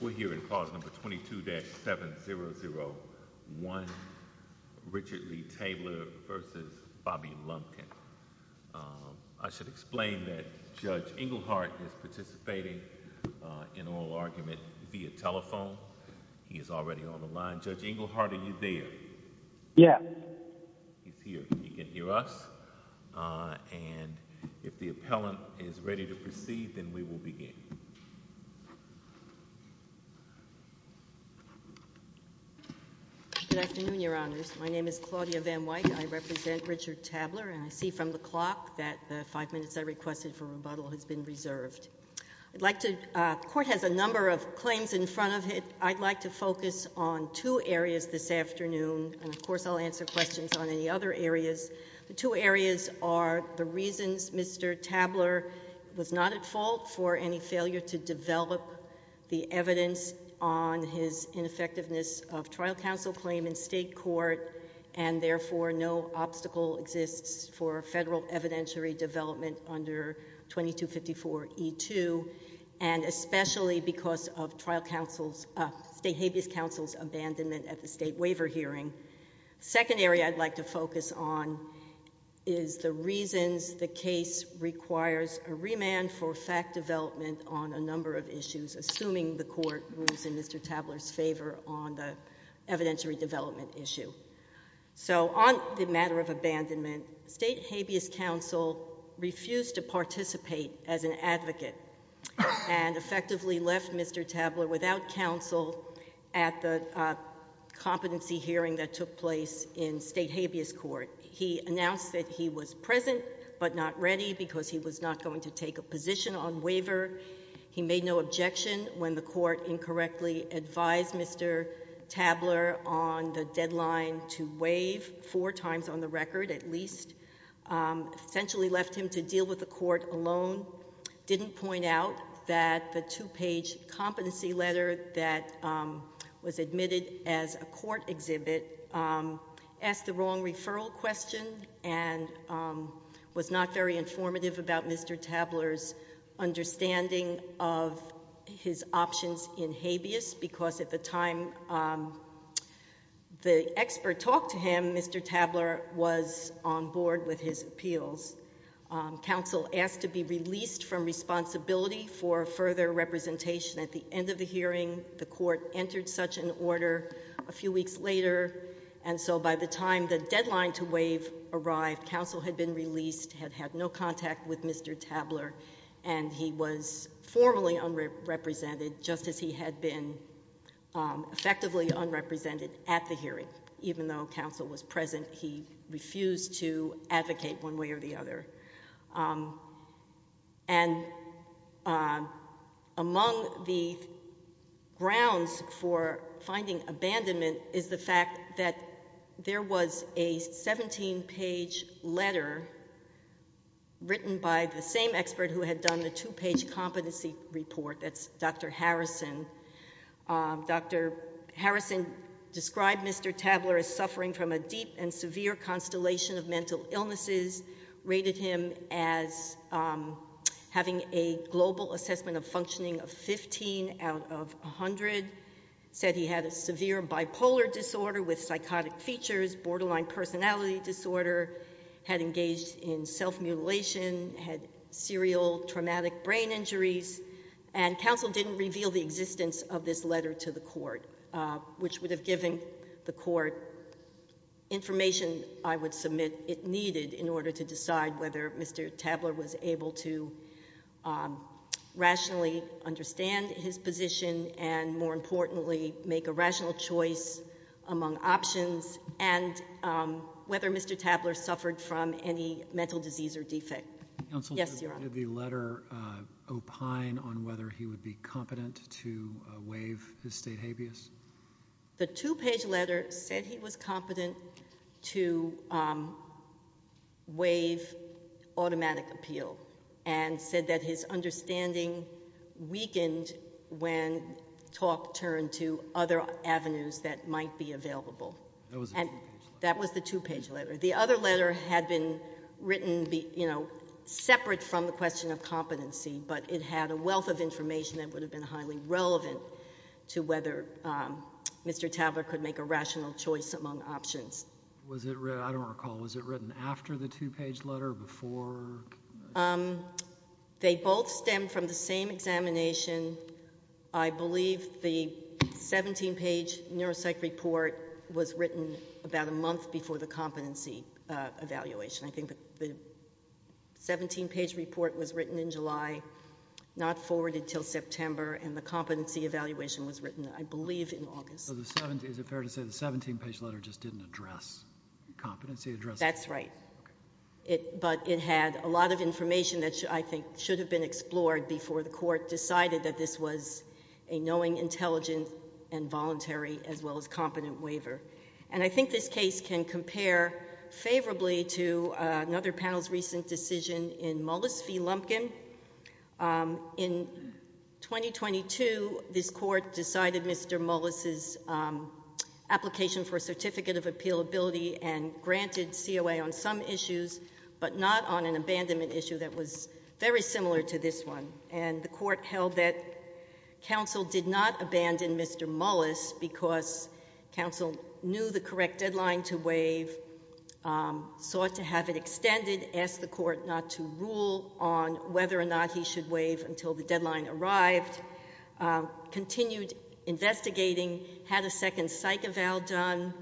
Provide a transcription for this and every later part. We're here in clause number 22-7001, Richard Lee Taylor v. Bobby Lumpkin. I should explain that Judge Englehart is participating in oral argument via telephone. He is already on the line. Judge Englehart, are you there? Yeah. He's here. He can hear us. And if the appellant is ready to proceed, then we will begin. Good afternoon, Your Honors. My name is Claudia Van Wyk. I represent Richard Tabler. And I see from the clock that the five minutes I requested for rebuttal has been reserved. I'd like to, the Court has a number of claims in front of it. I'd like to focus on two areas this afternoon. And of course, I'll answer questions on any other areas. The two areas are the reasons Mr. Tabler was not at fault for any failure to develop the evidence on his ineffectiveness of trial counsel claim in state court, and therefore no obstacle exists for federal evidentiary development under 2254E2, and especially because of trial counsel's, state habeas counsel's abandonment at the state waiver hearing. The second area I'd like to focus on is the reasons the case requires a remand for fact development on a number of issues, assuming the Court moves in Mr. Tabler's favor on the evidentiary development issue. So on the matter of abandonment, state habeas counsel refused to participate as an advocate and effectively left Mr. Tabler without counsel at the competency hearing that took place in state habeas court. He announced that he was present but not ready because he was not going to take a position on waiver. He made no objection when the Court incorrectly advised Mr. Tabler on the deadline to waive four times on the record at least, essentially left him to deal with the Court alone, didn't point out that the two-page competency letter that was admitted as a court exhibit asked the wrong referral question and was not very informative about Mr. Tabler's understanding of his options in habeas because at the time the expert talked to him, Mr. Tabler was on board with his appeals. Counsel asked to be released from responsibility for further representation at the end of the hearing. The Court entered such an order a few weeks later, and so by the time the deadline to waive arrived, counsel had been released, had had no contact with Mr. Tabler, and he was formally unrepresented just as he had been effectively unrepresented at the hearing. Even though counsel was present, he refused to advocate one way or the other. And among the grounds for finding abandonment is the fact that there was a 17-page letter written by the same expert who had done the two-page competency report, that's Dr. Harrison. Dr. Harrison described Mr. Tabler as suffering from a deep and severe constellation of mental illnesses, rated him as having a global assessment of functioning of 15 out of 100, said he had a severe bipolar disorder with psychotic features, borderline personality disorder, had engaged in self-mutilation, had serial traumatic brain injuries, and counsel didn't reveal the existence of this letter to the Court, which would have given the Court information I would submit it needed in order to decide whether Mr. Tabler was able to rationally understand his position and, more importantly, make a rational choice among options, and whether Mr. Tabler suffered from any mental disease or defect. Yes, Your Honor. Did the letter opine on whether he would be competent to waive his state habeas? The two-page letter said he was competent to waive automatic appeal and said that his understanding weakened when talk turned to other avenues that might be available. That was the two-page letter. The other letter had been written separate from the question of competency, but it had a wealth of information that would have been highly relevant to whether Mr. Tabler could make a rational choice among options. Was it written, I don't recall, was it written after the two-page letter or before? They both stem from the same examination. I believe the 17-page neuropsych report was written about a month before the competency evaluation. I think the 17-page report was written in July, not forwarded until September, and the competency evaluation was written, I believe, in August. Is it fair to say the 17-page letter just didn't address competency? That's right. Okay. But it had a lot of information that I think should have been explored before the Court decided that this was a knowing, intelligent, and voluntary as well as competent waiver. And I think this case can compare favorably to another panel's recent decision in Mullis v. Lumpkin. In 2022, this Court decided Mr. Mullis's application for a certificate of appealability and granted COA on some issues, but not on an abandonment issue that was very similar to this one. And the Court held that counsel did not abandon Mr. Mullis because counsel knew the correct deadline to waive, sought to have it extended, asked the Court not to rule on whether or not he should waive until the deadline arrived, continued investigating, had a second psych eval done,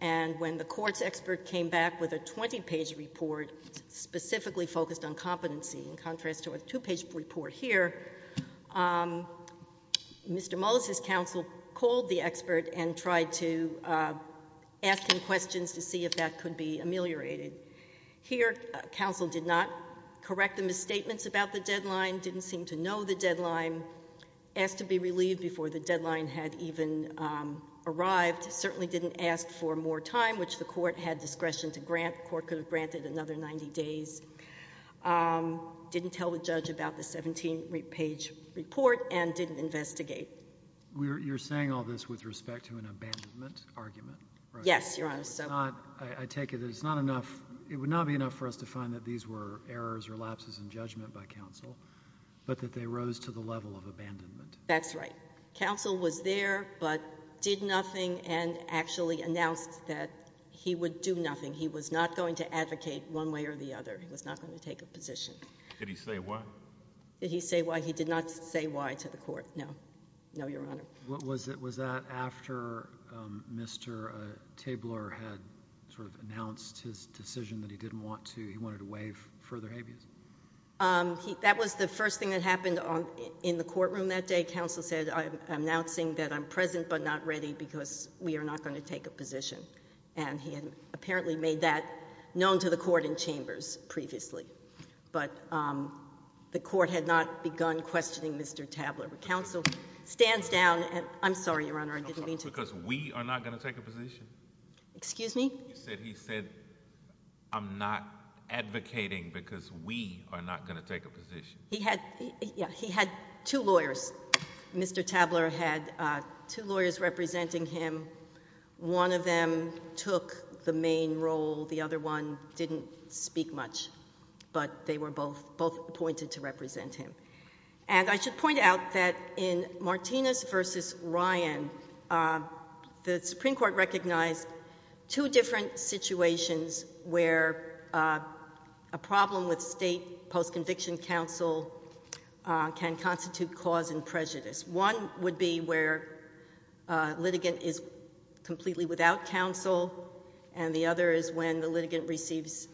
and when the Court's expert came back with a 20-page report specifically focused on competency in contrast to a two-page report here, Mr. Mullis's counsel called the expert and tried to ask him questions to see if that could be ameliorated. Here, counsel did not correct the misstatements about the deadline, didn't seem to know the deadline, asked to be relieved before the deadline had even arrived, certainly didn't ask for more time, which the Court had discretion to grant. That Court could have granted another 90 days. Didn't tell the judge about the 17-page report and didn't investigate. You're saying all this with respect to an abandonment argument, right? Yes, Your Honor. I take it that it's not enough, it would not be enough for us to find that these were errors or lapses in judgment by counsel, but that they rose to the level of abandonment. That's right. Counsel was there but did nothing and actually announced that he would do nothing. He was not going to advocate one way or the other. He was not going to take a position. Did he say why? Did he say why? He did not say why to the Court. No. No, Your Honor. Was that after Mr. Tabler had sort of announced his decision that he didn't want to, he wanted to waive further habeas? That was the first thing that happened in the courtroom that day. Counsel said, I'm announcing that I'm present but not ready because we are not going to take a position. And he had apparently made that known to the Court and Chambers previously, but the Court had not begun questioning Mr. Tabler. Counsel stands down and, I'm sorry, Your Honor, I didn't mean to. Because we are not going to take a position? Excuse me? You said he said, I'm not advocating because we are not going to take a position. He had, yeah, he had two lawyers. Mr. Tabler had two lawyers representing him. One of them took the main role. The other one didn't speak much, but they were both appointed to represent him. And I should point out that in Martinez v. Ryan, the Supreme Court recognized two different situations where a problem with state post-conviction counsel can constitute cause and prejudice. One would be where a litigant is completely without counsel, and the other is when the litigant receives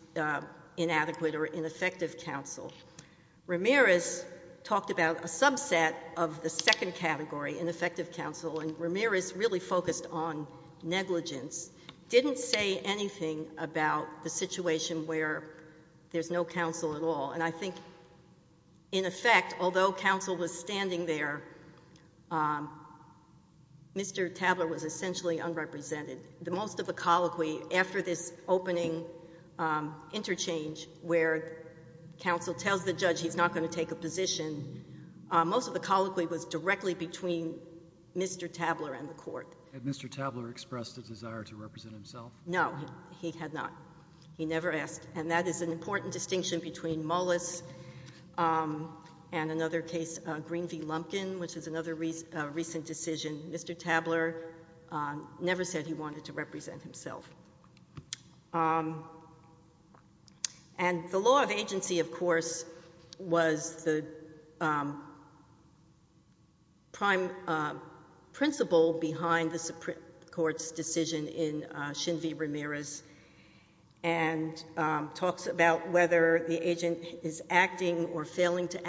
inadequate or ineffective counsel. Ramirez talked about a subset of the second category, ineffective counsel, and Ramirez really focused on negligence, didn't say anything about the situation where there's no counsel at all. And I think, in effect, although counsel was standing there, Mr. Tabler was essentially unrepresented. The most of the colloquy after this opening interchange where counsel tells the judge he's not going to take a position, most of the colloquy was directly between Mr. Tabler and the Court. Had Mr. Tabler expressed a desire to represent himself? No. He had not. He never asked. And that is an important distinction between Mullis and another case, Green v. Lumpkin, which is another recent decision. Mr. Tabler never said he wanted to represent himself. And the law of agency, of course, was the prime principle behind the Supreme Court's decision in Shin v. Ramirez and talks about whether the agent is acting or failing to be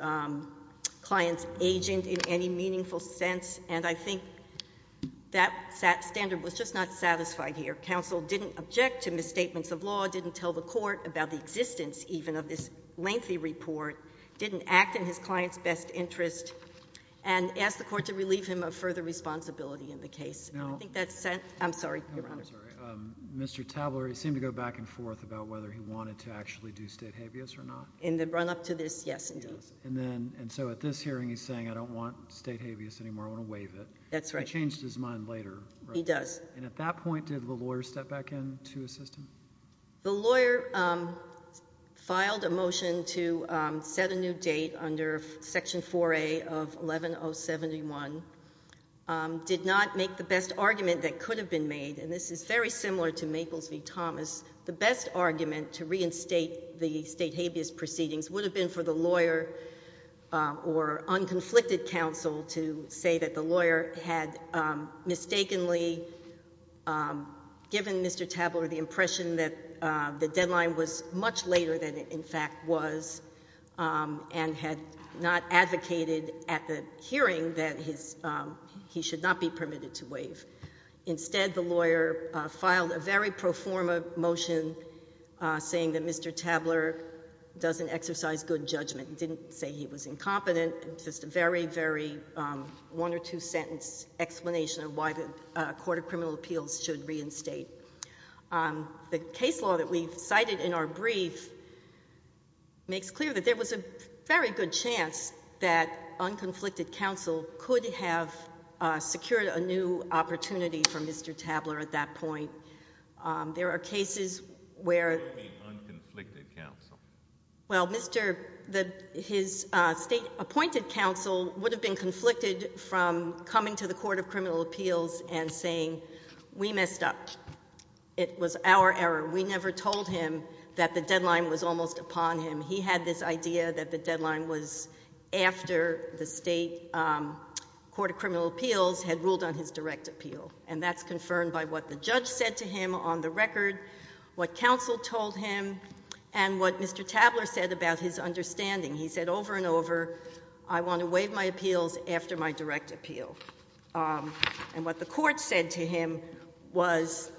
a client's agent in any meaningful sense. And I think that standard was just not satisfied here. Counsel didn't object to misstatements of law, didn't tell the Court about the existence even of this lengthy report, didn't act in his client's best interest, and asked the Court to relieve him of further responsibility in the case. And I think that sent — Now — I'm sorry, Your Honor. I'm sorry. Mr. Tabler, he seemed to go back and forth about whether he wanted to actually do Stadhevius or not. In the run-up to this, yes, indeed. Yes. And then — and so at this hearing, he's saying, I don't want Stadhevius anymore, I want to waive it. That's right. He changed his mind later, right? He does. And at that point, did the lawyer step back in to assist him? The lawyer filed a motion to set a new date under Section 4A of 11-071, did not make the best argument that could have been made, and this is very similar to Maples v. Thomas. The best argument to reinstate the Stadhevius proceedings would have been for the lawyer or unconflicted counsel to say that the lawyer had mistakenly given Mr. Tabler the impression that the deadline was much later than it in fact was, and had not advocated at the hearing that he should not be permitted to waive. Instead, the lawyer filed a very pro forma motion saying that Mr. Tabler doesn't exercise good judgment, didn't say he was incompetent, and just a very, very one or two-sentence explanation of why the Court of Criminal Appeals should reinstate. The case law that we've cited in our brief makes clear that there was a very good chance that unconflicted counsel could have secured a new opportunity for Mr. Tabler at that point. There are cases where... What do you mean, unconflicted counsel? Well, Mr.... his State-appointed counsel would have been conflicted from coming to the Court of Criminal Appeals and saying, we messed up. It was our error. We never told him that the deadline was almost upon him. He had this idea that the deadline was after the State Court of Criminal Appeals had ruled on his direct appeal, and that's confirmed by what the judge said to him on the record, what counsel told him, and what Mr. Tabler said about his understanding. He said over and over, I want to waive my appeals after my direct appeal. And what the court said to him was,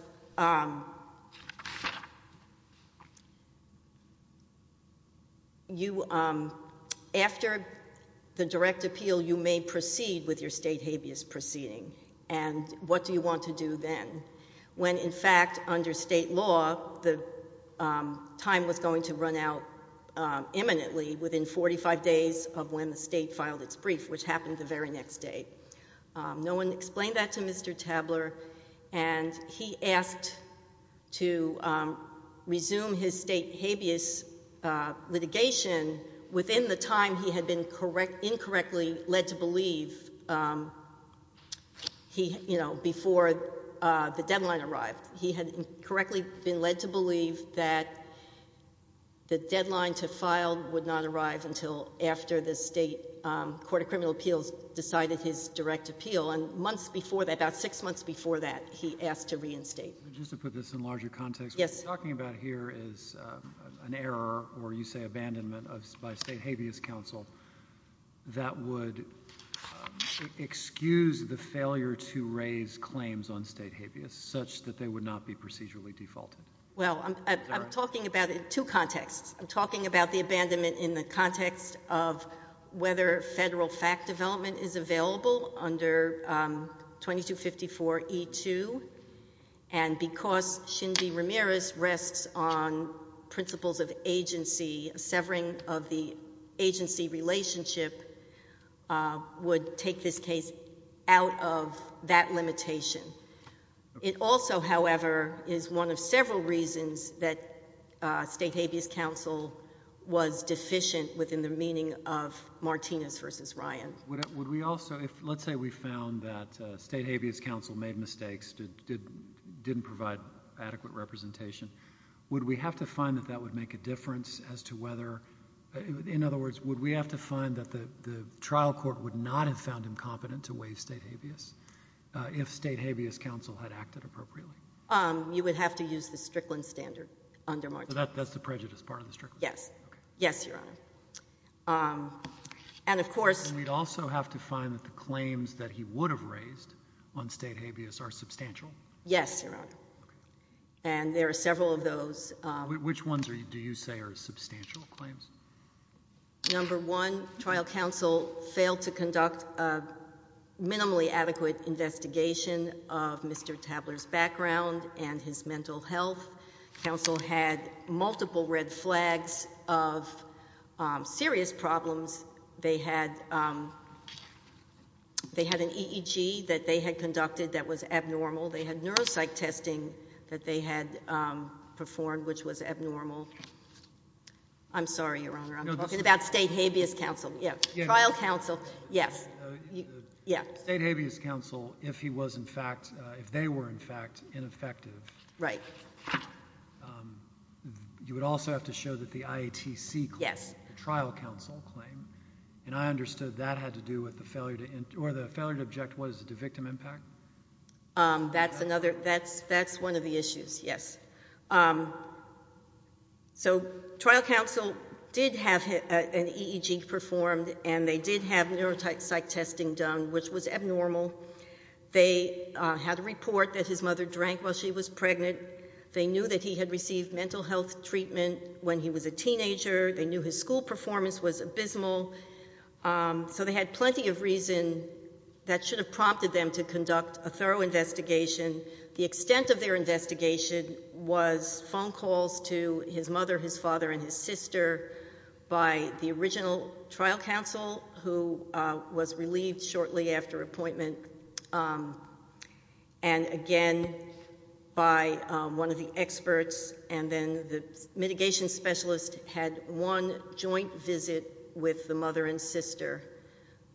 after the direct appeal, you may proceed with your State habeas proceeding, and what do you want to do then, when, in fact, under State law, the time was going to run out imminently, within 45 days of when the State filed its brief, which happened the very next day. No one explained that to Mr. Tabler, and he asked to resume his State habeas litigation within the time he had been incorrectly led to believe, you know, before the deadline arrived. He had incorrectly been led to believe that the deadline to file would not arrive until after the State Court of Criminal Appeals decided his direct appeal, and months before that, about six months before that, he asked to reinstate. Just to put this in larger context. Yes. What you're talking about here is an error, or you say abandonment, by State habeas counsel that would excuse the failure to raise claims on State habeas, such that they would not be procedurally defaulted. Well, I'm talking about it in two contexts. I'm talking about the abandonment in the context of whether federal fact development is available under 2254E2, and because Shinbi Ramirez rests on principles of agency, severing of the agency relationship would take this case out of that limitation. It also, however, is one of several reasons that State habeas counsel was deficient within the meaning of Martinez v. Ryan. Would we also, let's say we found that State habeas counsel made mistakes, didn't provide adequate representation, would we have to find that that would make a difference as to whether, in other words, would we have to find that the trial court would not have found him competent to waive State habeas if State habeas counsel had acted appropriately? You would have to use the Strickland standard under Martinez. That's the prejudice part of the Strickland? Yes. Okay. Yes, Your Honor. Okay. And of course— And we'd also have to find that the claims that he would have raised on State habeas are substantial? Yes, Your Honor. Okay. And there are several of those. Which ones do you say are substantial claims? Number one, trial counsel failed to conduct a minimally adequate investigation of Mr. Tabler's background and his mental health. Counsel had multiple red flags of serious problems. They had an EEG that they had conducted that was abnormal. They had neuropsych testing that they had performed, which was abnormal. I'm sorry, Your Honor. I'm talking about State habeas counsel. Yes. Trial counsel. Yes. State habeas counsel, if he was in fact, if they were in fact ineffective. Right. You would also have to show that the IATC claim. Yes. The trial counsel claim. And I understood that had to do with the failure to—or the failure to object was to victim impact? That's another—that's one of the issues, yes. So trial counsel did have an EEG performed, and they did have neuropsych testing done, which was abnormal. They had a report that his mother drank while she was pregnant. They knew that he had received mental health treatment when he was a teenager. They knew his school performance was abysmal. So they had plenty of reason that should have prompted them to conduct a thorough investigation. The extent of their investigation was phone calls to his mother, his father, and his sister by the original trial counsel, who was relieved shortly after appointment, and again by one of the experts, and then the mitigation specialist had one joint visit with the mother and sister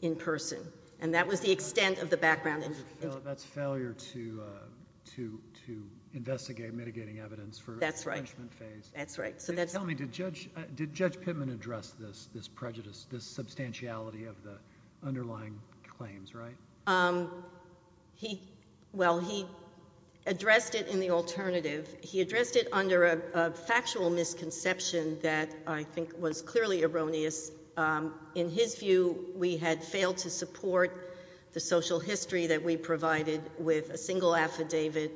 in person. And that was the extent of the background. That's failure to investigate mitigating evidence for— That's right. That's right. Tell me, did Judge Pittman address this prejudice, this substantiality of the underlying claims, right? Well, he addressed it in the alternative. He addressed it under a factual misconception that I think was clearly erroneous. In his view, we had failed to support the social history that we provided with a single affidavit,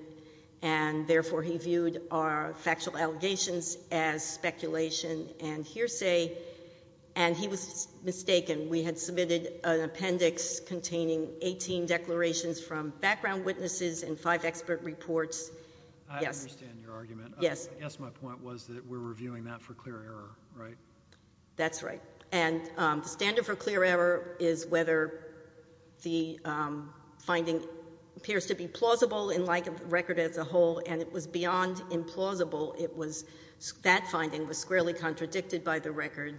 and therefore he viewed our factual allegations as speculation and hearsay, and he was mistaken. We had submitted an appendix containing 18 declarations from background witnesses and five expert reports. I understand your argument. Yes. I guess my point was that we're reviewing that for clear error, right? That's right. And the standard for clear error is whether the finding appears to be plausible in light of the record as a whole, and it was beyond implausible. It was—that finding was squarely contradicted by the record,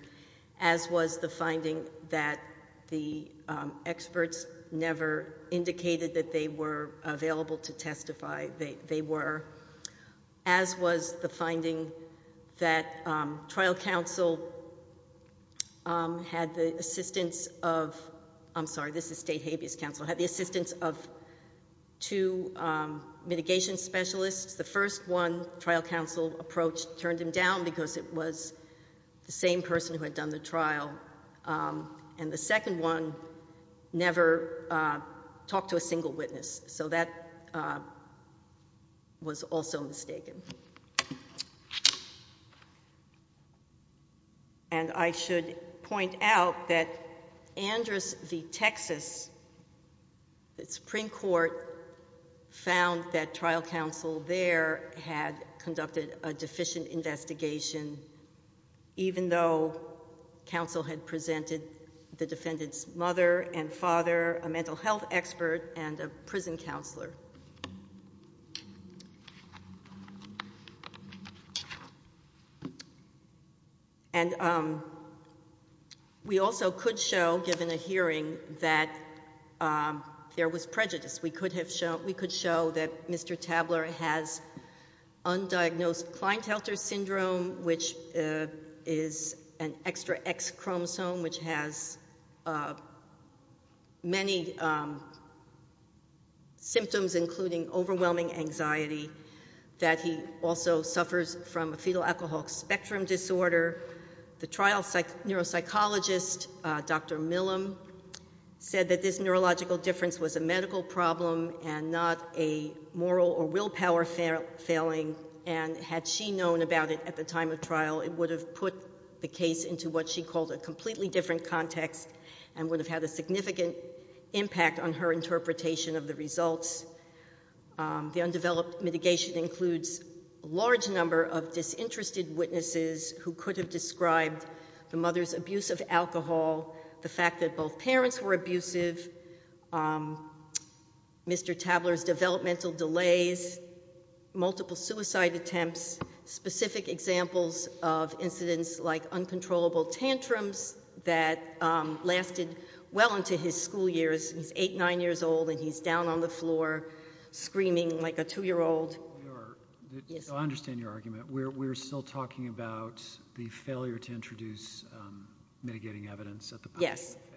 as was the finding that the experts never indicated that they were available to testify. As was the finding that trial counsel had the assistance of—I'm sorry, this is state habeas counsel— had the assistance of two mitigation specialists. The first one, trial counsel approached, turned him down because it was the same person who had done the trial, and the second one never talked to a single witness. So that was also mistaken. And I should point out that Andrus v. Texas, the Supreme Court, found that trial counsel there had conducted a deficient investigation, even though counsel had presented the defendant's mother and father, a mental health expert, and a prison counselor. And we also could show, given a hearing, that there was prejudice. We could have shown—we could show that Mr. Tabler has undiagnosed Kleintelter syndrome, which is an extra X chromosome which has many symptoms, including overwhelming anxiety, that he also suffers from a fetal alcohol spectrum disorder. The trial neuropsychologist, Dr. Millam, said that this neurological difference was a medical problem and not a moral or willpower failing, and had she known about it at the time of trial, it would have put the case into what she called a completely different context and would have had a significant impact on her interpretation of the results. The undeveloped mitigation includes a large number of disinterested witnesses who could have described the mother's abuse of alcohol, the fact that both parents were abusive, Mr. Tabler's developmental delays, multiple suicide attempts, specific examples of incidents like uncontrollable tantrums that lasted well into his school years. He's eight, nine years old, and he's down on the floor screaming like a two-year-old. I understand your argument. We're still talking about the failure to introduce mitigating evidence at the possible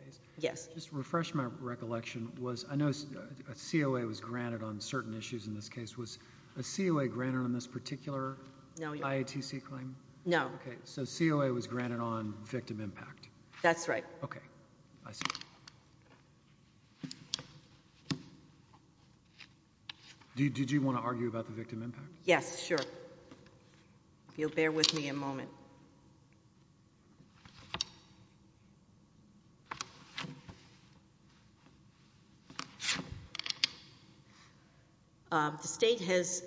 phase. Yes. Just to refresh my recollection, I know a COA was granted on certain issues in this case. Was a COA granted on this particular IATC claim? No. Okay, so COA was granted on victim impact. That's right. Okay, I see. Did you want to argue about the victim impact? Yes, sure. If you'll bear with me a moment. The state has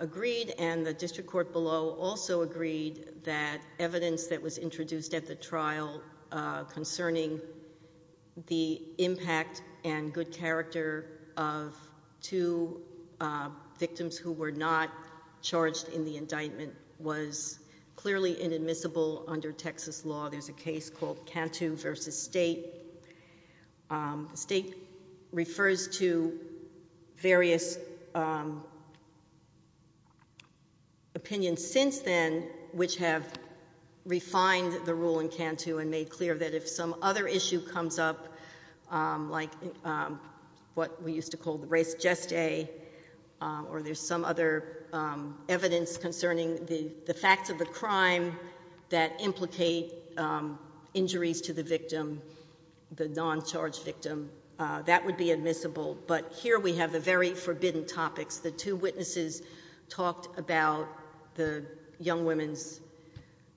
agreed and the district court below also agreed that evidence that was introduced at the trial concerning the impact and good character of two victims who were not charged in the indictment was clearly inadmissible under Texas law. There's a case called Cantu v. State. The state refers to various opinions since then which have refined the rule in Cantu and made clear that if some other issue comes up, like what we used to call the res geste, or there's some other evidence concerning the facts of the crime that implicate injuries to the victim, the non-charged victim, that would be admissible. But here we have the very forbidden topics. The two witnesses talked about the young women's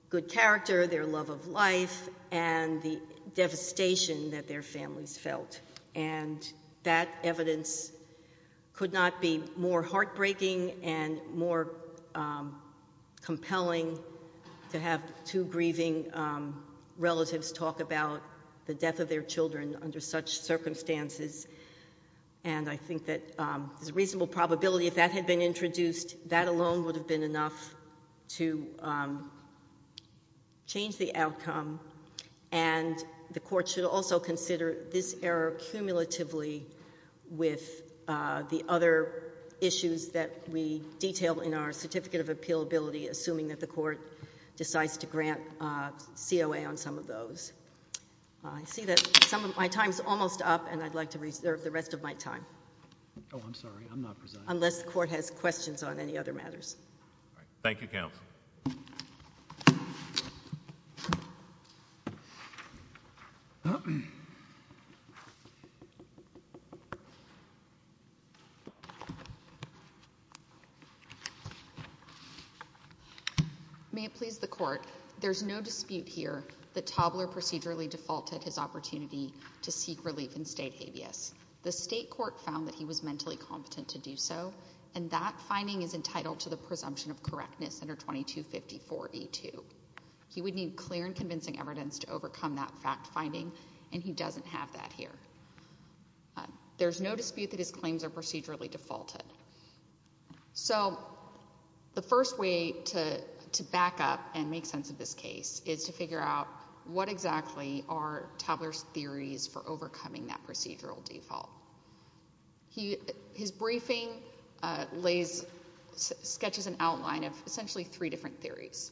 good character, their love of life, and the devastation that their families felt. And that evidence could not be more heartbreaking and more compelling to have two grieving relatives talk about the death of their children under such circumstances. And I think that there's a reasonable probability if that had been introduced, that alone would have been enough to change the outcome. And the court should also consider this error cumulatively with the other issues that we detail in our Certificate of Appealability, assuming that the court decides to grant COA on some of those. I see that some of my time is almost up, and I'd like to reserve the rest of my time. Oh, I'm sorry. I'm not presiding. Unless the court has questions on any other matters. Thank you, counsel. May it please the court. There's no dispute here that Tobler procedurally defaulted his opportunity to seek relief in state habeas. The state court found that he was mentally competent to do so, and that finding is entitled to the presumption of correctness under 2254E2. He would need clear and convincing evidence to overcome that fact-finding, and he doesn't have that here. There's no dispute that his claims are procedurally defaulted. So the first way to back up and make sense of this case is to figure out what exactly are Tobler's theories for overcoming that procedural default. His briefing sketches an outline of essentially three different theories.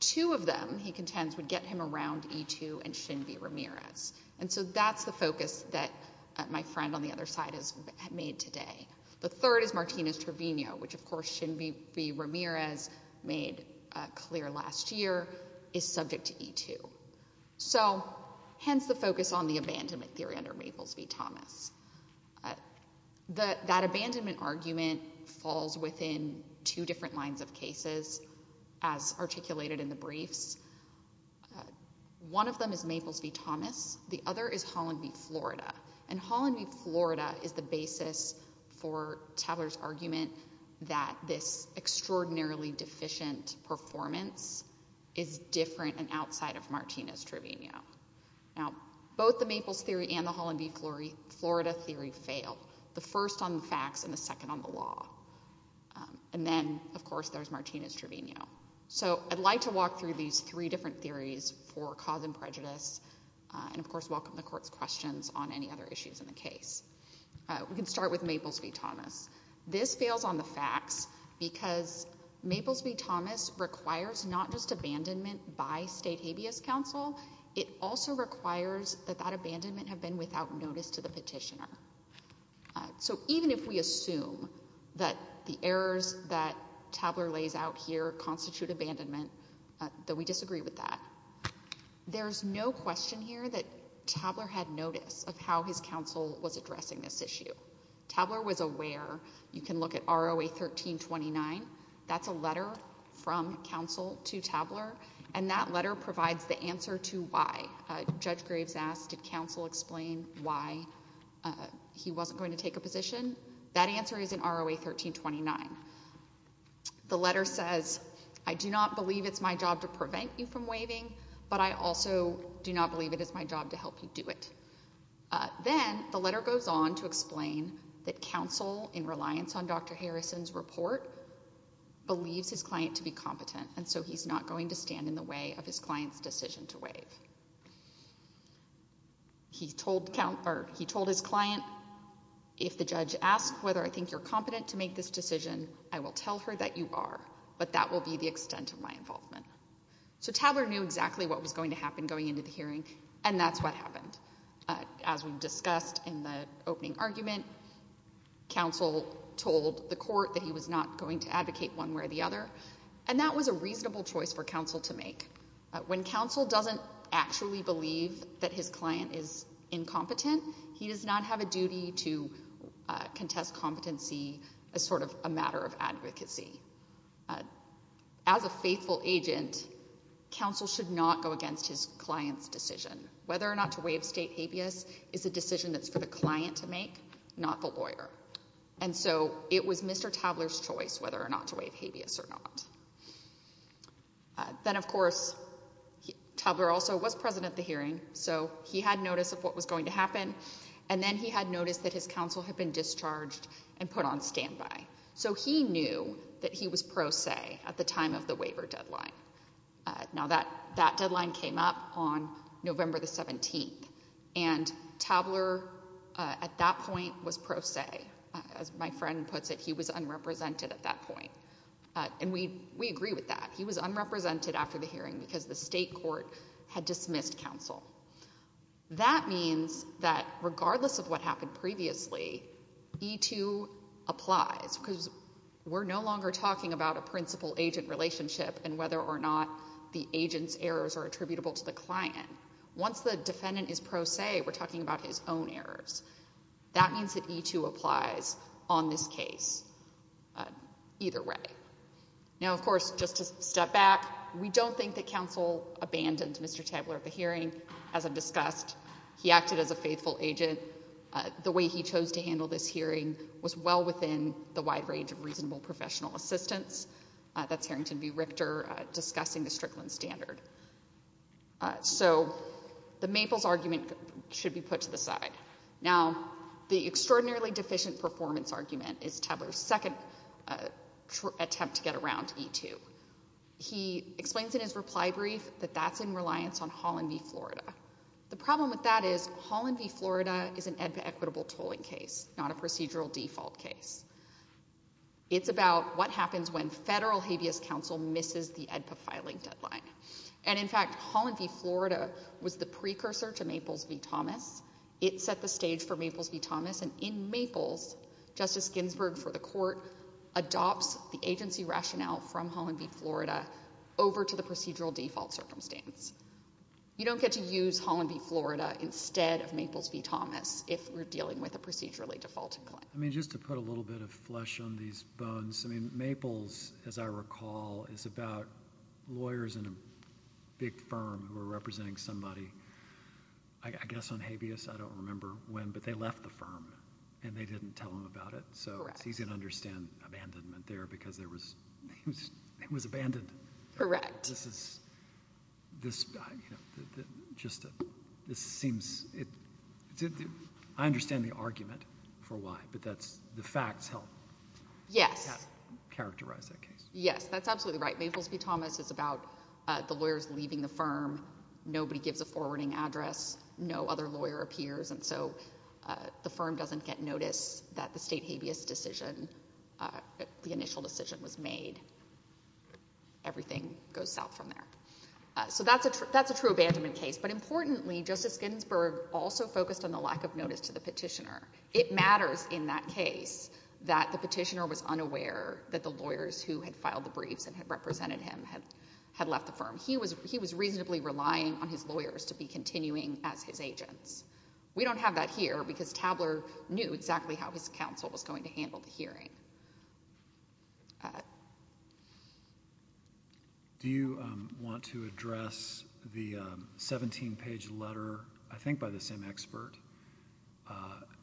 Two of them, he contends, would get him around E2 and Shin v. Ramirez, and so that's the focus that my friend on the other side has made today. The third is Martinez-Trevino, which, of course, Shin v. Ramirez made clear last year is subject to E2. So hence the focus on the abandonment theory under Maples v. Thomas. That abandonment argument falls within two different lines of cases as articulated in the briefs. One of them is Maples v. Thomas. The other is Holland v. Florida, and Holland v. Florida is the basis for Tobler's argument that this extraordinarily deficient performance is different and outside of Martinez-Trevino. Now, both the Maples theory and the Holland v. Florida theory fail, the first on the facts and the second on the law. And then, of course, there's Martinez-Trevino. So I'd like to walk through these three different theories for cause and prejudice and, of course, welcome the Court's questions on any other issues in the case. We can start with Maples v. Thomas. This fails on the facts because Maples v. Thomas requires not just abandonment by state habeas counsel, it also requires that that abandonment have been without notice to the petitioner. So even if we assume that the errors that Tobler lays out here constitute abandonment, though we disagree with that, there's no question here that Tobler had notice of how his counsel was addressing this issue. Tobler was aware. You can look at ROA 1329. That's a letter from counsel to Tobler, and that letter provides the answer to why. Judge Graves asked, did counsel explain why he wasn't going to take a position? That answer is in ROA 1329. The letter says, I do not believe it's my job to prevent you from waiving, but I also do not believe it is my job to help you do it. Then the letter goes on to explain that counsel, in reliance on Dr. Harrison's report, believes his client to be competent, and so he's not going to stand in the way of his client's decision to waive. He told his client, if the judge asks whether I think you're competent to make this decision, I will tell her that you are, but that will be the extent of my involvement. So Tobler knew exactly what was going to happen going into the hearing, and that's what happened. As we discussed in the opening argument, counsel told the court that he was not going to advocate one way or the other, and that was a reasonable choice for counsel to make. When counsel doesn't actually believe that his client is incompetent, he does not have a duty to contest competency as sort of a matter of advocacy. As a faithful agent, counsel should not go against his client's decision. Whether or not to waive state habeas is a decision that's for the client to make, not the lawyer. And so it was Mr. Tobler's choice whether or not to waive habeas or not. Then, of course, Tobler also was present at the hearing, so he had notice of what was going to happen, and then he had notice that his counsel had been discharged and put on standby. So he knew that he was pro se at the time of the waiver deadline. Now, that deadline came up on November the 17th, and Tobler at that point was pro se. As my friend puts it, he was unrepresented at that point. And we agree with that. He was unrepresented after the hearing because the state court had dismissed counsel. That means that regardless of what happened previously, E-2 applies, because we're no longer talking about a principal-agent relationship and whether or not the agent's errors are attributable to the client. Once the defendant is pro se, we're talking about his own errors. That means that E-2 applies on this case either way. Now, of course, just to step back, we don't think that counsel abandoned Mr. Tobler at the hearing, as I've discussed. He acted as a faithful agent. The way he chose to handle this hearing was well within the wide range of reasonable professional assistance. That's Harrington v. Richter discussing the Strickland standard. So the Maples argument should be put to the side. Now, the extraordinarily deficient performance argument is Tobler's second attempt to get around E-2. He explains in his reply brief that that's in reliance on Holland v. Florida. The problem with that is Holland v. Florida is an EDPA equitable tolling case, not a procedural default case. It's about what happens when federal habeas counsel misses the EDPA filing deadline. And, in fact, Holland v. Florida was the precursor to Maples v. Thomas. It set the stage for Maples v. Thomas. And in Maples, Justice Ginsburg for the court adopts the agency rationale from Holland v. Florida over to the procedural default circumstance. You don't get to use Holland v. Florida instead of Maples v. Thomas if we're dealing with a procedurally defaulted claim. I mean, just to put a little bit of flesh on these bones, I mean, Maples, as I recall, is about lawyers in a big firm who are representing somebody. I guess on habeas, I don't remember when, but they left the firm and they didn't tell him about it. So it's easy to understand abandonment there because it was abandoned. Correct. I understand the argument for why, but the facts help characterize that case. Yes, that's absolutely right. Maples v. Thomas is about the lawyers leaving the firm. Nobody gives a forwarding address. No other lawyer appears, and so the firm doesn't get notice that the state habeas decision, the initial decision was made. Everything goes south from there. So that's a true abandonment case. But importantly, Justice Ginsburg also focused on the lack of notice to the petitioner. It matters in that case that the petitioner was unaware that the lawyers who had filed the briefs and had represented him had left the firm. He was reasonably relying on his lawyers to be continuing as his agents. We don't have that here because Tabler knew exactly how his counsel was going to handle the hearing. Do you want to address the 17-page letter, I think by the same expert,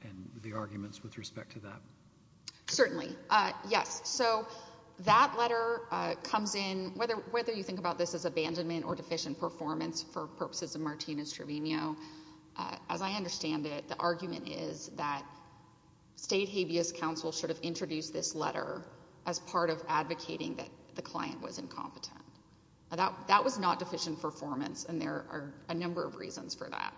and the arguments with respect to that? Certainly. Yes, so that letter comes in, whether you think about this as abandonment or deficient performance for purposes of Martinez-Trevino, as I understand it, the argument is that state habeas counsel sort of introduced this letter as part of advocating that the client was incompetent. That was not deficient performance, and there are a number of reasons for that.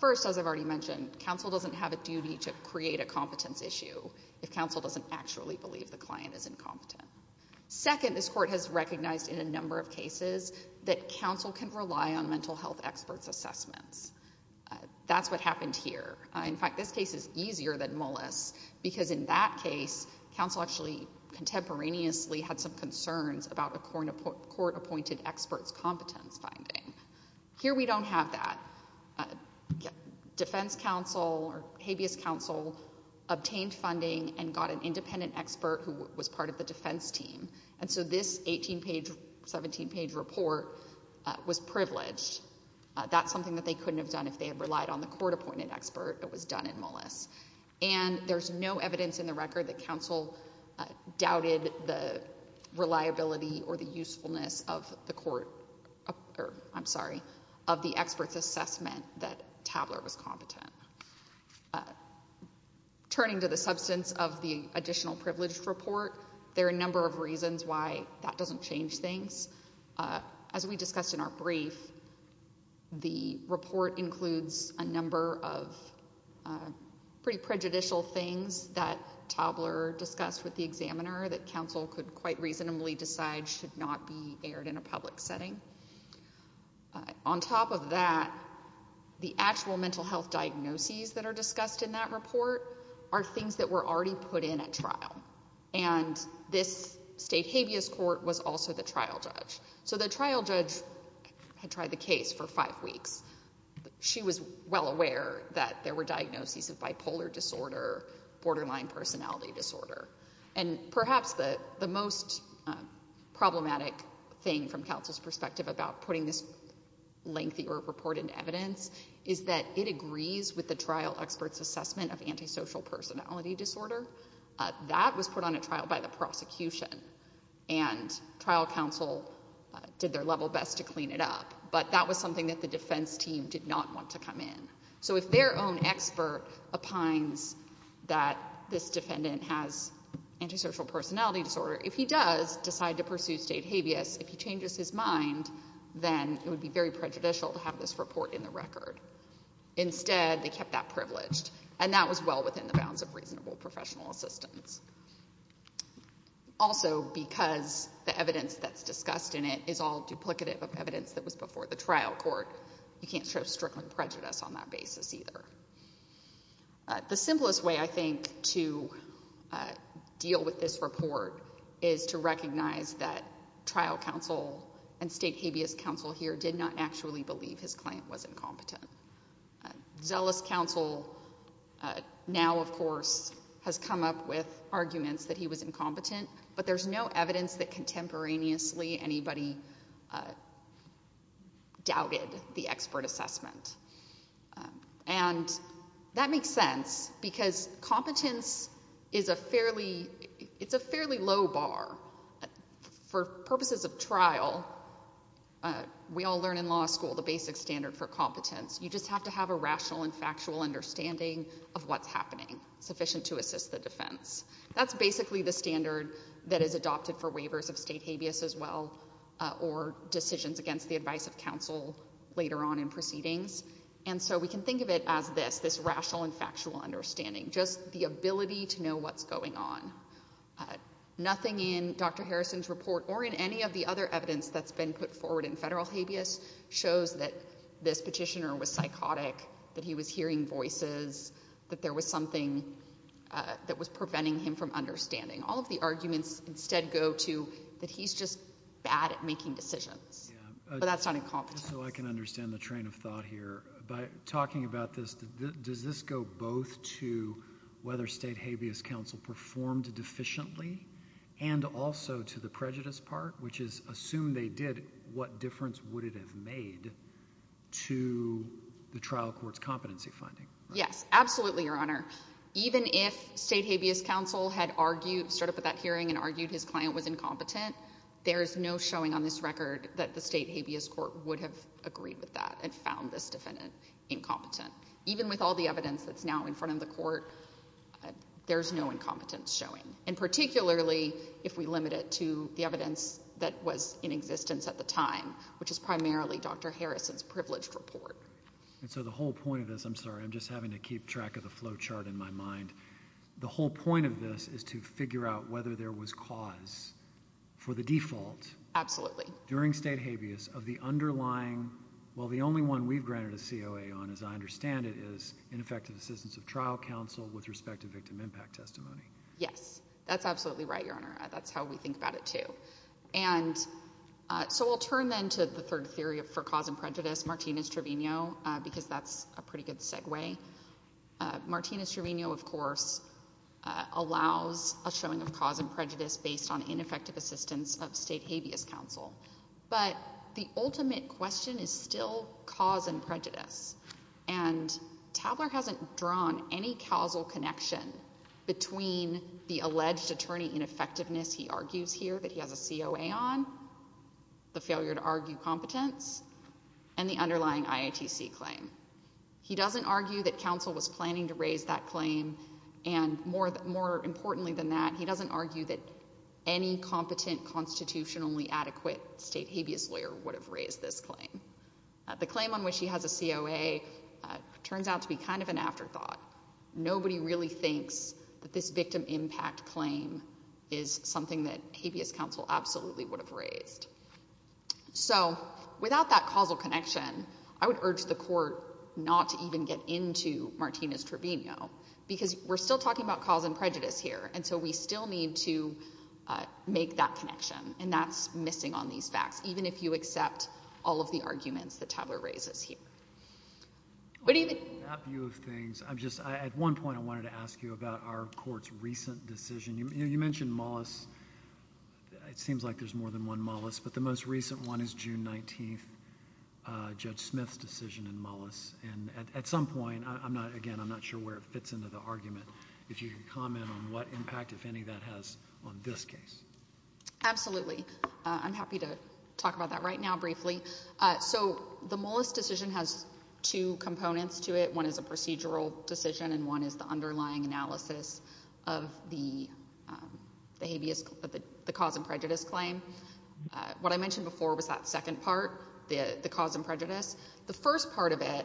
First, as I've already mentioned, counsel doesn't have a duty to create a competence issue if counsel doesn't actually believe the client is incompetent. Second, this court has recognized in a number of cases that counsel can rely on mental health experts' assessments. That's what happened here. In fact, this case is easier than Mullis because in that case, counsel actually contemporaneously had some concerns about a court-appointed experts' competence finding. Here we don't have that. Defense counsel or habeas counsel obtained funding and got an independent expert who was part of the defense team, and so this seventeen-page report was privileged. That's something that they couldn't have done if they had relied on the court-appointed expert. It was done in Mullis. There's no evidence in the record that counsel doubted the reliability or the usefulness of the expert's assessment that Tabler was competent. Turning to the substance of the additional privileged report, there are a number of reasons why that doesn't change things. As we discussed in our brief, the report includes a number of pretty prejudicial things that Tabler discussed with the examiner that counsel could quite reasonably decide should not be aired in a public setting. On top of that, the actual mental health diagnoses that are discussed in that report are things that were already put in at trial, and this state habeas court was also the trial judge. So the trial judge had tried the case for five weeks. She was well aware that there were diagnoses of bipolar disorder, borderline personality disorder, and perhaps the most problematic thing from counsel's perspective about putting this lengthy report into evidence is that it agrees with the trial expert's assessment of antisocial personality disorder. That was put on a trial by the prosecution, and trial counsel did their level best to clean it up, but that was something that the defense team did not want to come in. So if their own expert opines that this defendant has antisocial personality disorder, if he does decide to pursue state habeas, if he changes his mind, then it would be very prejudicial to have this report in the record. Instead, they kept that privileged, and that was well within the bounds of reasonable professional assistance. Also, because the evidence that's discussed in it is all duplicative of evidence that was before the trial court, you can't show strickling prejudice on that basis either. The simplest way, I think, to deal with this report is to recognize that trial counsel and state habeas counsel here did not actually believe his client was incompetent. Zealous counsel now, of course, has come up with arguments that he was incompetent, but there's no evidence that contemporaneously anybody doubted the expert assessment. And that makes sense, because competence is a fairly low bar. For purposes of trial, we all learn in law school the basic standard for competence. You just have to have a rational and factual understanding of what's happening, sufficient to assist the defense. That's basically the standard that is adopted for waivers of state habeas as well or decisions against the advice of counsel later on in proceedings. And so we can think of it as this, this rational and factual understanding, just the ability to know what's going on. Nothing in Dr. Harrison's report or in any of the other evidence that's been put forward in federal habeas shows that this petitioner was psychotic, that he was hearing voices, that there was something that was preventing him from understanding. All of the arguments instead go to that he's just bad at making decisions. But that's not incompetence. So I can understand the train of thought here. By talking about this, does this go both to whether state habeas counsel performed deficiently and also to the prejudice part, which is assume they did, what difference would it have made to the trial court's competency finding? Yes, absolutely, Your Honor. Even if state habeas counsel had argued, started with that hearing and argued his client was incompetent, there is no showing on this record that the state habeas court would have agreed with that and found this defendant incompetent. Even with all the evidence that's now in front of the court, there's no incompetence showing. And particularly if we limit it to the evidence that was in existence at the time, which is primarily Dr. Harrison's privileged report. And so the whole point of this, I'm sorry, I'm just having to keep track of the flow chart in my mind. The whole point of this is to figure out whether there was cause for the default Absolutely. during state habeas of the underlying, well, the only one we've granted a COA on, as I understand it, is ineffective assistance of trial counsel with respect to victim impact testimony. Yes, that's absolutely right, Your Honor. That's how we think about it too. And so we'll turn then to the third theory for cause and prejudice, Martinez-Trevino, because that's a pretty good segue. Martinez-Trevino, of course, allows a showing of cause and prejudice based on ineffective assistance of state habeas counsel. But the ultimate question is still cause and prejudice. And Tabler hasn't drawn any causal connection between the alleged attorney ineffectiveness he argues here that he has a COA on, the failure to argue competence, and the underlying IATC claim. He doesn't argue that counsel was planning to raise that claim, and more importantly than that, he doesn't argue that any competent constitutionally adequate state habeas lawyer would have raised this claim. The claim on which he has a COA turns out to be kind of an afterthought. Nobody really thinks that this victim impact claim is something that habeas counsel absolutely would have raised. So without that causal connection, I would urge the court not to even get into Martinez-Trevino, because we're still talking about cause and prejudice here, and so we still need to make that connection, and that's missing on these facts, even if you accept all of the arguments that Tabler raises here. What do you think? In that view of things, at one point I wanted to ask you about our court's recent decision. You mentioned Mullis. It seems like there's more than one Mullis, but the most recent one is June 19th, Judge Smith's decision in Mullis. And at some point, again, I'm not sure where it fits into the argument. If you could comment on what impact, if any, that has on this case. Absolutely. I'm happy to talk about that right now briefly. So the Mullis decision has two components to it. One is a procedural decision, and one is the underlying analysis of the cause and prejudice claim. What I mentioned before was that second part, the cause and prejudice. The first part of it,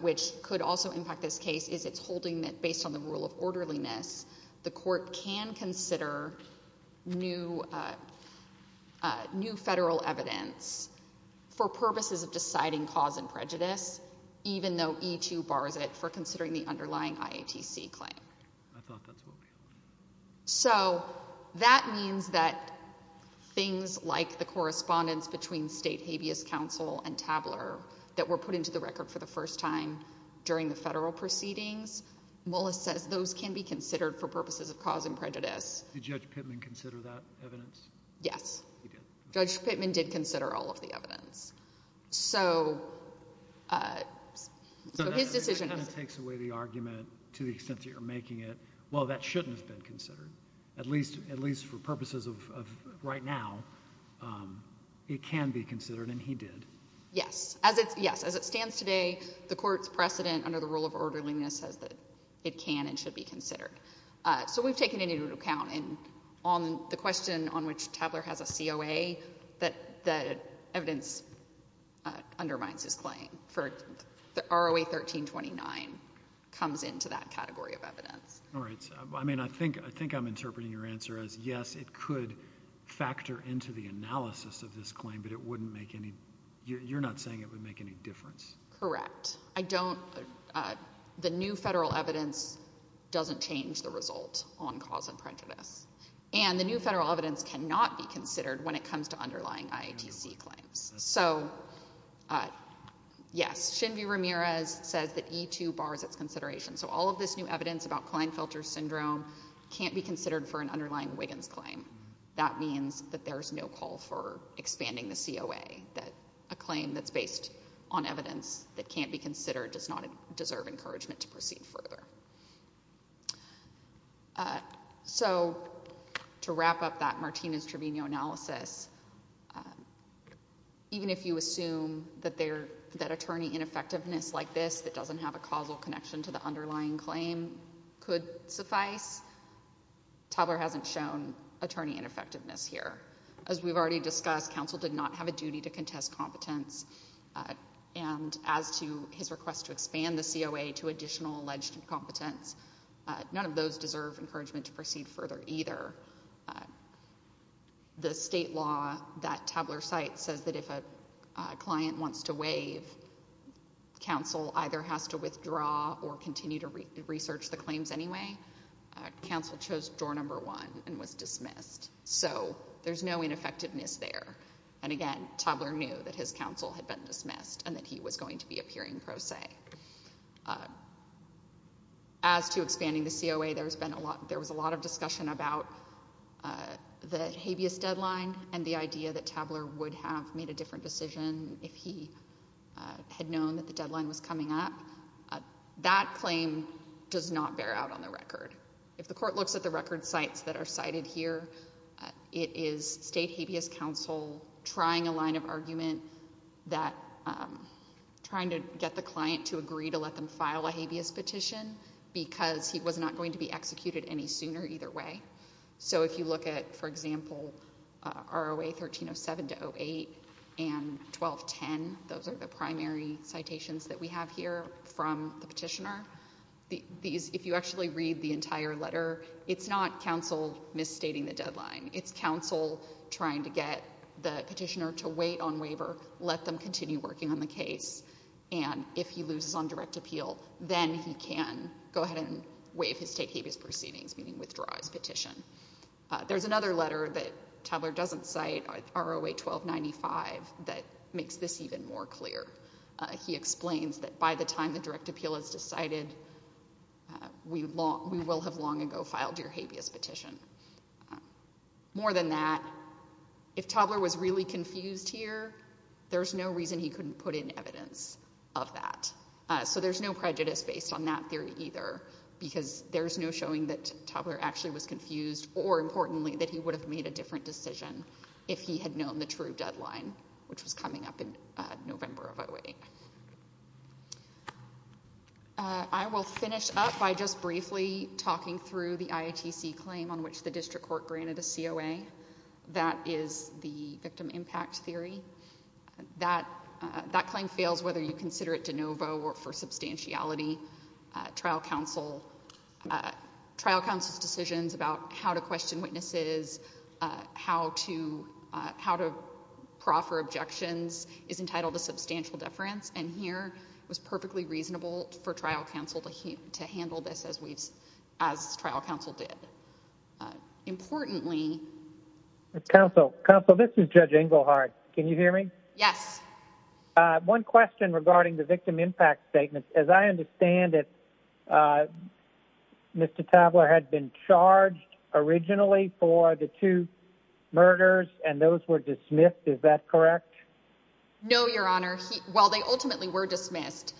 which could also impact this case, is it's holding that based on the rule of orderliness, the court can consider new federal evidence for purposes of deciding cause and prejudice, even though E2 bars it for considering the underlying IATC claim. I thought that's what we heard. So that means that things like the correspondence between state habeas counsel and Tabler that were put into the record for the first time during the federal proceedings, Mullis says those can be considered for purposes of cause and prejudice. Did Judge Pittman consider that evidence? Yes. He did. Judge Pittman did consider all of the evidence. So his decision is... So that kind of takes away the argument to the extent that you're making it, well, that shouldn't have been considered, at least for purposes of right now. It can be considered, and he did. Yes. Yes, as it stands today, the court's precedent under the rule of orderliness says that it can and should be considered. So we've taken it into account, and on the question on which Tabler has a COA, that evidence undermines his claim. ROA 1329 comes into that category of evidence. All right. I mean, I think I'm interpreting your answer as, yes, it could factor into the analysis of this claim, but it wouldn't make any you're not saying it would make any difference. Correct. I don't... The new federal evidence doesn't change the result on cause and prejudice. And the new federal evidence cannot be considered when it comes to underlying IATC claims. So, yes, Shinvi Ramirez says that E2 bars its consideration. So all of this new evidence about Klinefelter syndrome can't be considered for an underlying Wiggins claim. That means that there's no call for expanding the COA, that a claim that's based on evidence that can't be considered does not deserve encouragement to proceed further. So to wrap up that Martinez-Trevino analysis, even if you assume that attorney ineffectiveness like this that doesn't have a causal connection to the underlying claim could suffice, Tabler hasn't shown attorney ineffectiveness here. As we've already discussed, counsel did not have a duty to contest competence. And as to his request to expand the COA to additional alleged incompetence, none of those deserve encouragement to proceed further either. The state law that Tabler cites says that if a client wants to waive, counsel either has to withdraw or continue to research the claims anyway. Counsel chose door number one and was dismissed. So there's no ineffectiveness there. And again, Tabler knew that his counsel had been dismissed and that he was going to be appearing pro se. As to expanding the COA, there was a lot of discussion about the habeas deadline and the idea that Tabler would have made a different decision if he had known that the deadline was coming up. That claim does not bear out on the record. If the court looks at the record cites that are cited here, it is state habeas counsel trying a line of argument that trying to get the client to agree to let them file a habeas petition because he was not going to be executed any sooner either way. So if you look at, for example, ROA 1307-08 and 1210, those are the primary citations that we have here from the petitioner. If you actually read the entire letter, it's not counsel misstating the deadline. It's counsel trying to get the petitioner to wait on waiver, let them continue working on the case, and if he loses on direct appeal, then he can go ahead and waive his state habeas proceedings, meaning withdraw his petition. There's another letter that Tabler doesn't cite, ROA 1295, that makes this even more clear. He explains that by the time the direct appeal is decided, we will have long ago filed your habeas petition. More than that, if Tabler was really confused here, there's no reason he couldn't put in evidence of that. So there's no prejudice based on that theory either because there's no showing that Tabler actually was confused or, importantly, that he would have made a different decision if he had known the true deadline, which was coming up in November of 08. I will finish up by just briefly talking through the IATC claim on which the district court granted a COA. That is the victim impact theory. That claim fails whether you consider it de novo or for substantiality. Trial counsel's decisions about how to question witnesses, how to proffer objections is entitled to substantial deference, and here it was perfectly reasonable for trial counsel to handle this as trial counsel did. Importantly... Counsel, this is Judge Engelhardt. Can you hear me? Yes. One question regarding the victim impact statement. As I understand it, Mr. Tabler had been charged originally for the two murders, and those were dismissed. Is that correct? No, Your Honor. Well, they ultimately were dismissed,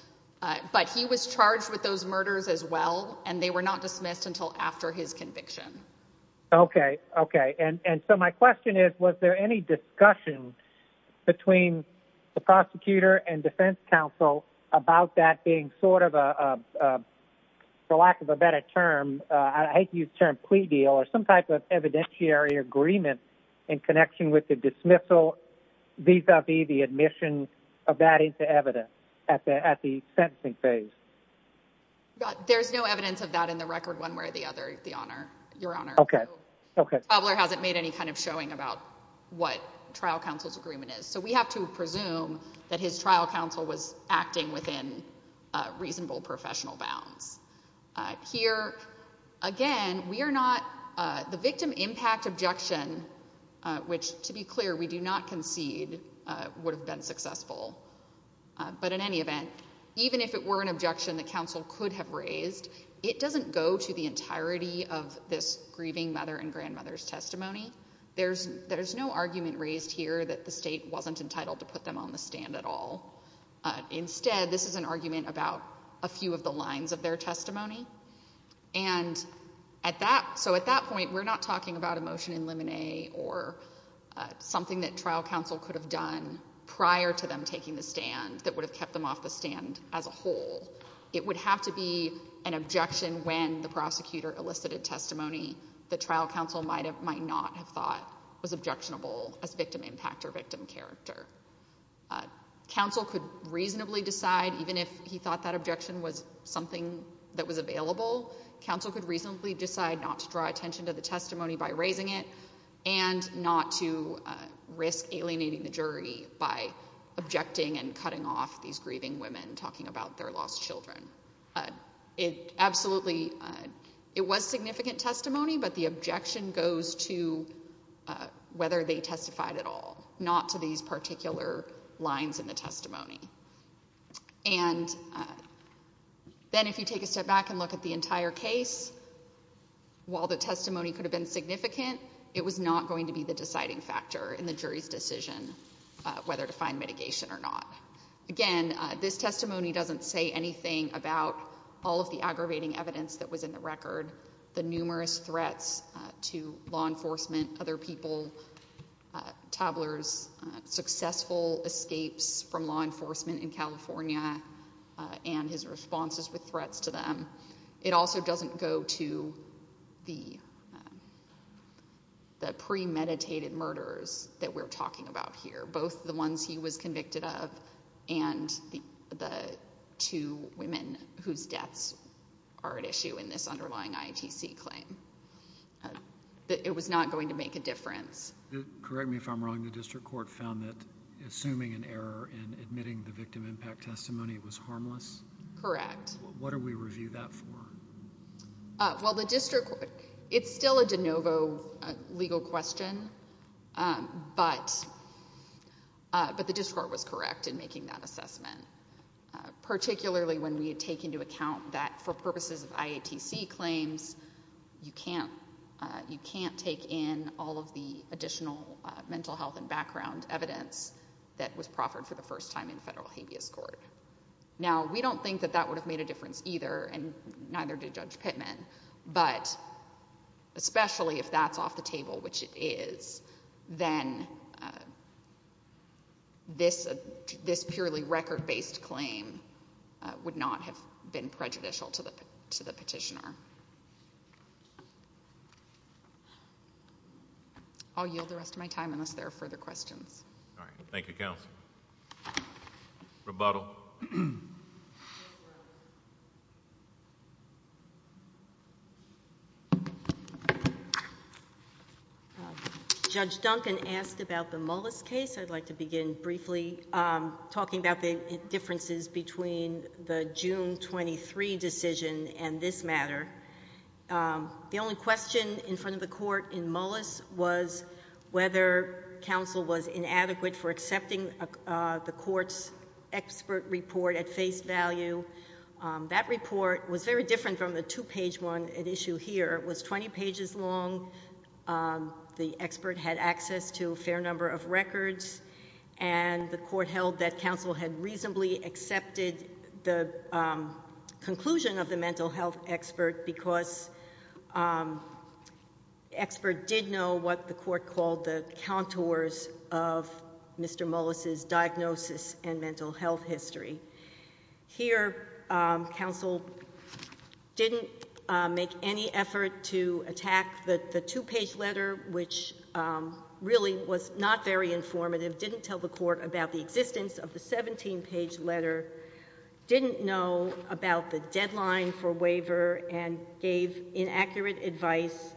but he was charged with those murders as well, and they were not dismissed until after his conviction. Okay, okay. And so my question is, was there any discussion between the prosecutor and defense counsel about that being sort of a, for lack of a better term, I hate to use the term plea deal, or some type of evidentiary agreement in connection with the dismissal vis-a-vis the admission of that into evidence at the sentencing phase? There's no evidence of that in the record one way or the other, Your Honor. Okay, okay. So Tabler hasn't made any kind of showing about what trial counsel's agreement is. So we have to presume that his trial counsel was acting within reasonable professional bounds. Here, again, we are not, the victim impact objection, which, to be clear, we do not concede would have been successful, but in any event, even if it were an objection that counsel could have raised, it doesn't go to the entirety of this grieving mother and grandmother's testimony. There's no argument raised here that the state wasn't entitled to put them on the stand at all. Instead, this is an argument about a few of the lines of their testimony. And so at that point, we're not talking about a motion in limine or something that trial counsel could have done prior to them taking the stand that would have kept them off the stand as a whole. It would have to be an objection when the prosecutor elicited testimony that trial counsel might not have thought was objectionable as victim impact or victim character. Counsel could reasonably decide, even if he thought that objection was something that was available, counsel could reasonably decide not to draw attention to the testimony by raising it and not to risk alienating the jury by objecting and cutting off these grieving women talking about their lost children. Absolutely, it was significant testimony, but the objection goes to whether they testified at all, not to these particular lines in the testimony. And then if you take a step back and look at the entire case, while the testimony could have been significant, it was not going to be the deciding factor in the jury's decision whether to find mitigation or not. Again, this testimony doesn't say anything about all of the aggravating evidence that was in the record, the numerous threats to law enforcement, other people, Tobler's successful escapes from law enforcement in California and his responses with threats to them. It also doesn't go to the premeditated murders that we're talking about here, both the ones he was convicted of and the two women whose deaths are at issue in this underlying IATC claim. It was not going to make a difference. Correct me if I'm wrong, the district court found that assuming an error in admitting the victim impact testimony was harmless? Correct. What do we review that for? Well, the district court, it's still a de novo legal question, but the district court was correct in making that assessment, particularly when we had taken into account that for purposes of IATC claims you can't take in all of the additional mental health and background evidence that was proffered for the first time in federal habeas court. Now, we don't think that that would have made a difference either, and neither did Judge Pittman, but especially if that's off the table, which it is, then this purely record-based claim would not have been prejudicial to the petitioner. I'll yield the rest of my time unless there are further questions. Thank you, counsel. Rebuttal. Judge Duncan asked about the Mullis case. I'd like to begin briefly talking about the differences between the June 23 decision and this matter. The only question in front of the court in Mullis was whether counsel was at face value. That report was very different from the two-page one at issue here. It was 20 pages long. The expert had access to a fair number of records, and the court held that counsel had reasonably accepted the conclusion of the mental health expert because the expert did know what the court called the contours of Mr. Mullis' mental health history. Here, counsel didn't make any effort to attack the two-page letter, which really was not very informative, didn't tell the court about the existence of the 17-page letter, didn't know about the deadline for waiver, and gave inaccurate advice.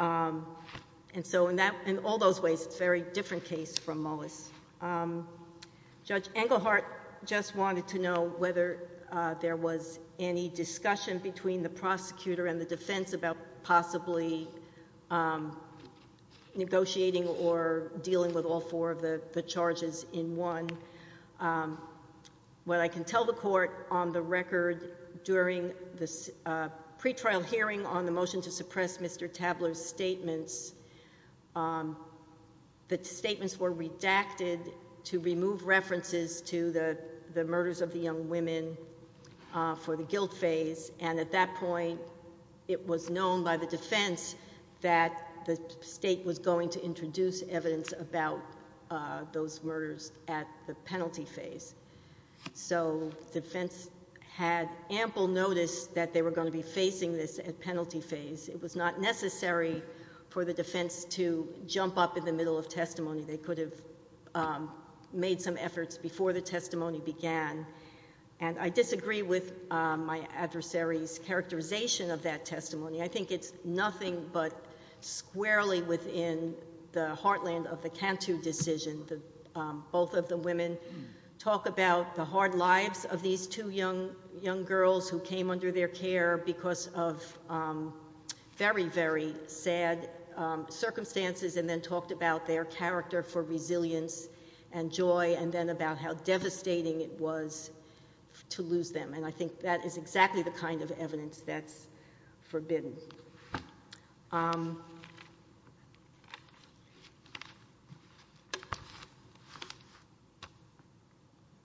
And so in all those ways, it's a very different case from Mullis. Judge Englehart just wanted to know whether there was any discussion between the prosecutor and the defense about possibly negotiating or dealing with all four of the charges in one. What I can tell the court on the record during the pretrial hearing on the motion to suppress Mr. Tabler's statements, the statements were redacted to remove references to the murders of the young women for the guilt phase, and at that point it was known by the defense that the state was going to introduce evidence about those murders at the penalty phase. So defense had ample notice that they were going to be facing this at penalty phase. It was not necessary for the defense to jump up in the middle of testimony. They could have made some efforts before the testimony began, and I disagree with my adversary's characterization of that testimony. I think it's nothing but squarely within the heartland of the Cantu decision. Both of the women talk about the hard lives of these two young girls who came under their care because of very, very sad circumstances, and then talked about their character for resilience and joy, and then about how devastating it was to lose them, and I think that is exactly the kind of evidence that's forbidden.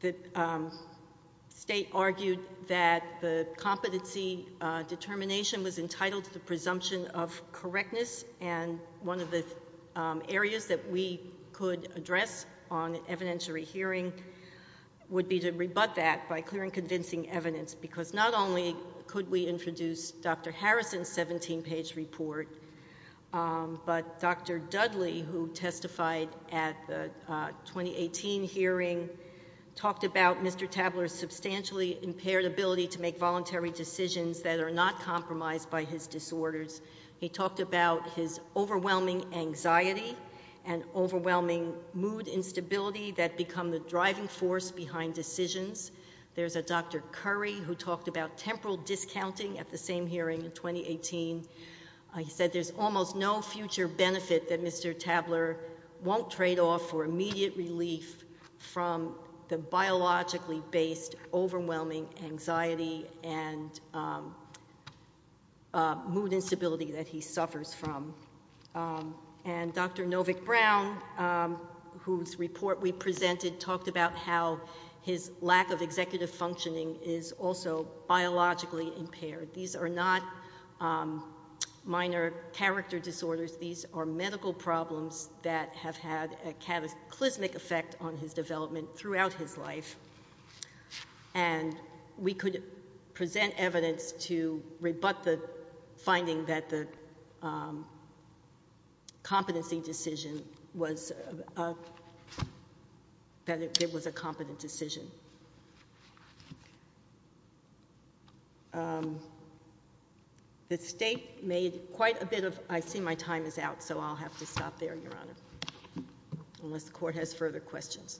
The state argued that the competency determination was entitled to the presumption of correctness, and one of the areas that we could address on evidentiary hearing would be to rebut that by clearing convincing evidence, because not only could we introduce Dr. Harrison's 17-page statement, but Dr. Dudley, who testified at the 2018 hearing, talked about Mr. Tabler's substantially impaired ability to make voluntary decisions that are not compromised by his disorders. He talked about his overwhelming anxiety and overwhelming mood instability that become the driving force behind decisions. There's a Dr. Curry who talked about temporal discounting at the same hearing in 2018. He said there's almost no future benefit that Mr. Tabler won't trade off for immediate relief from the biologically based overwhelming anxiety and mood instability that he suffers from. And Dr. Novick-Brown, whose report we presented, talked about how his lack of executive functioning is also biologically impaired. These are not minor character disorders. These are medical problems that have had a cataclysmic effect on his development throughout his life, and we could present evidence to rebut the finding that the competency decision was a competent decision. The State made quite a bit of—I see my time is out, so I'll have to stop there, Your Honor, unless the Court has further questions.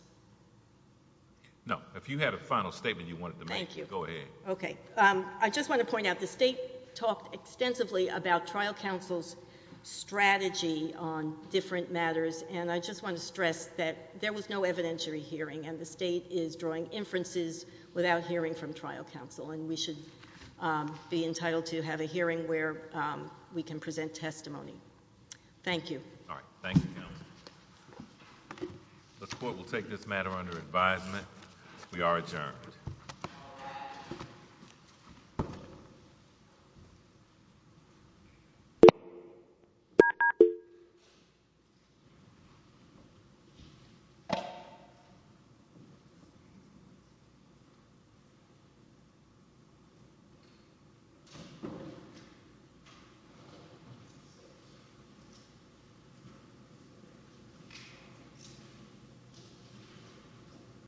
No. If you had a final statement you wanted to make, go ahead. Thank you. Okay. I just want to point out the State talked extensively about trial counsel's strategy on different matters, and I just want to stress that there was no evidentiary hearing, and the State is drawing inferences without hearing from trial counsel, and we should be entitled to have a hearing where we can present testimony. Thank you. All right. Thank you, Counsel. The Court will take this matter under advisement. We are adjourned. Thank you.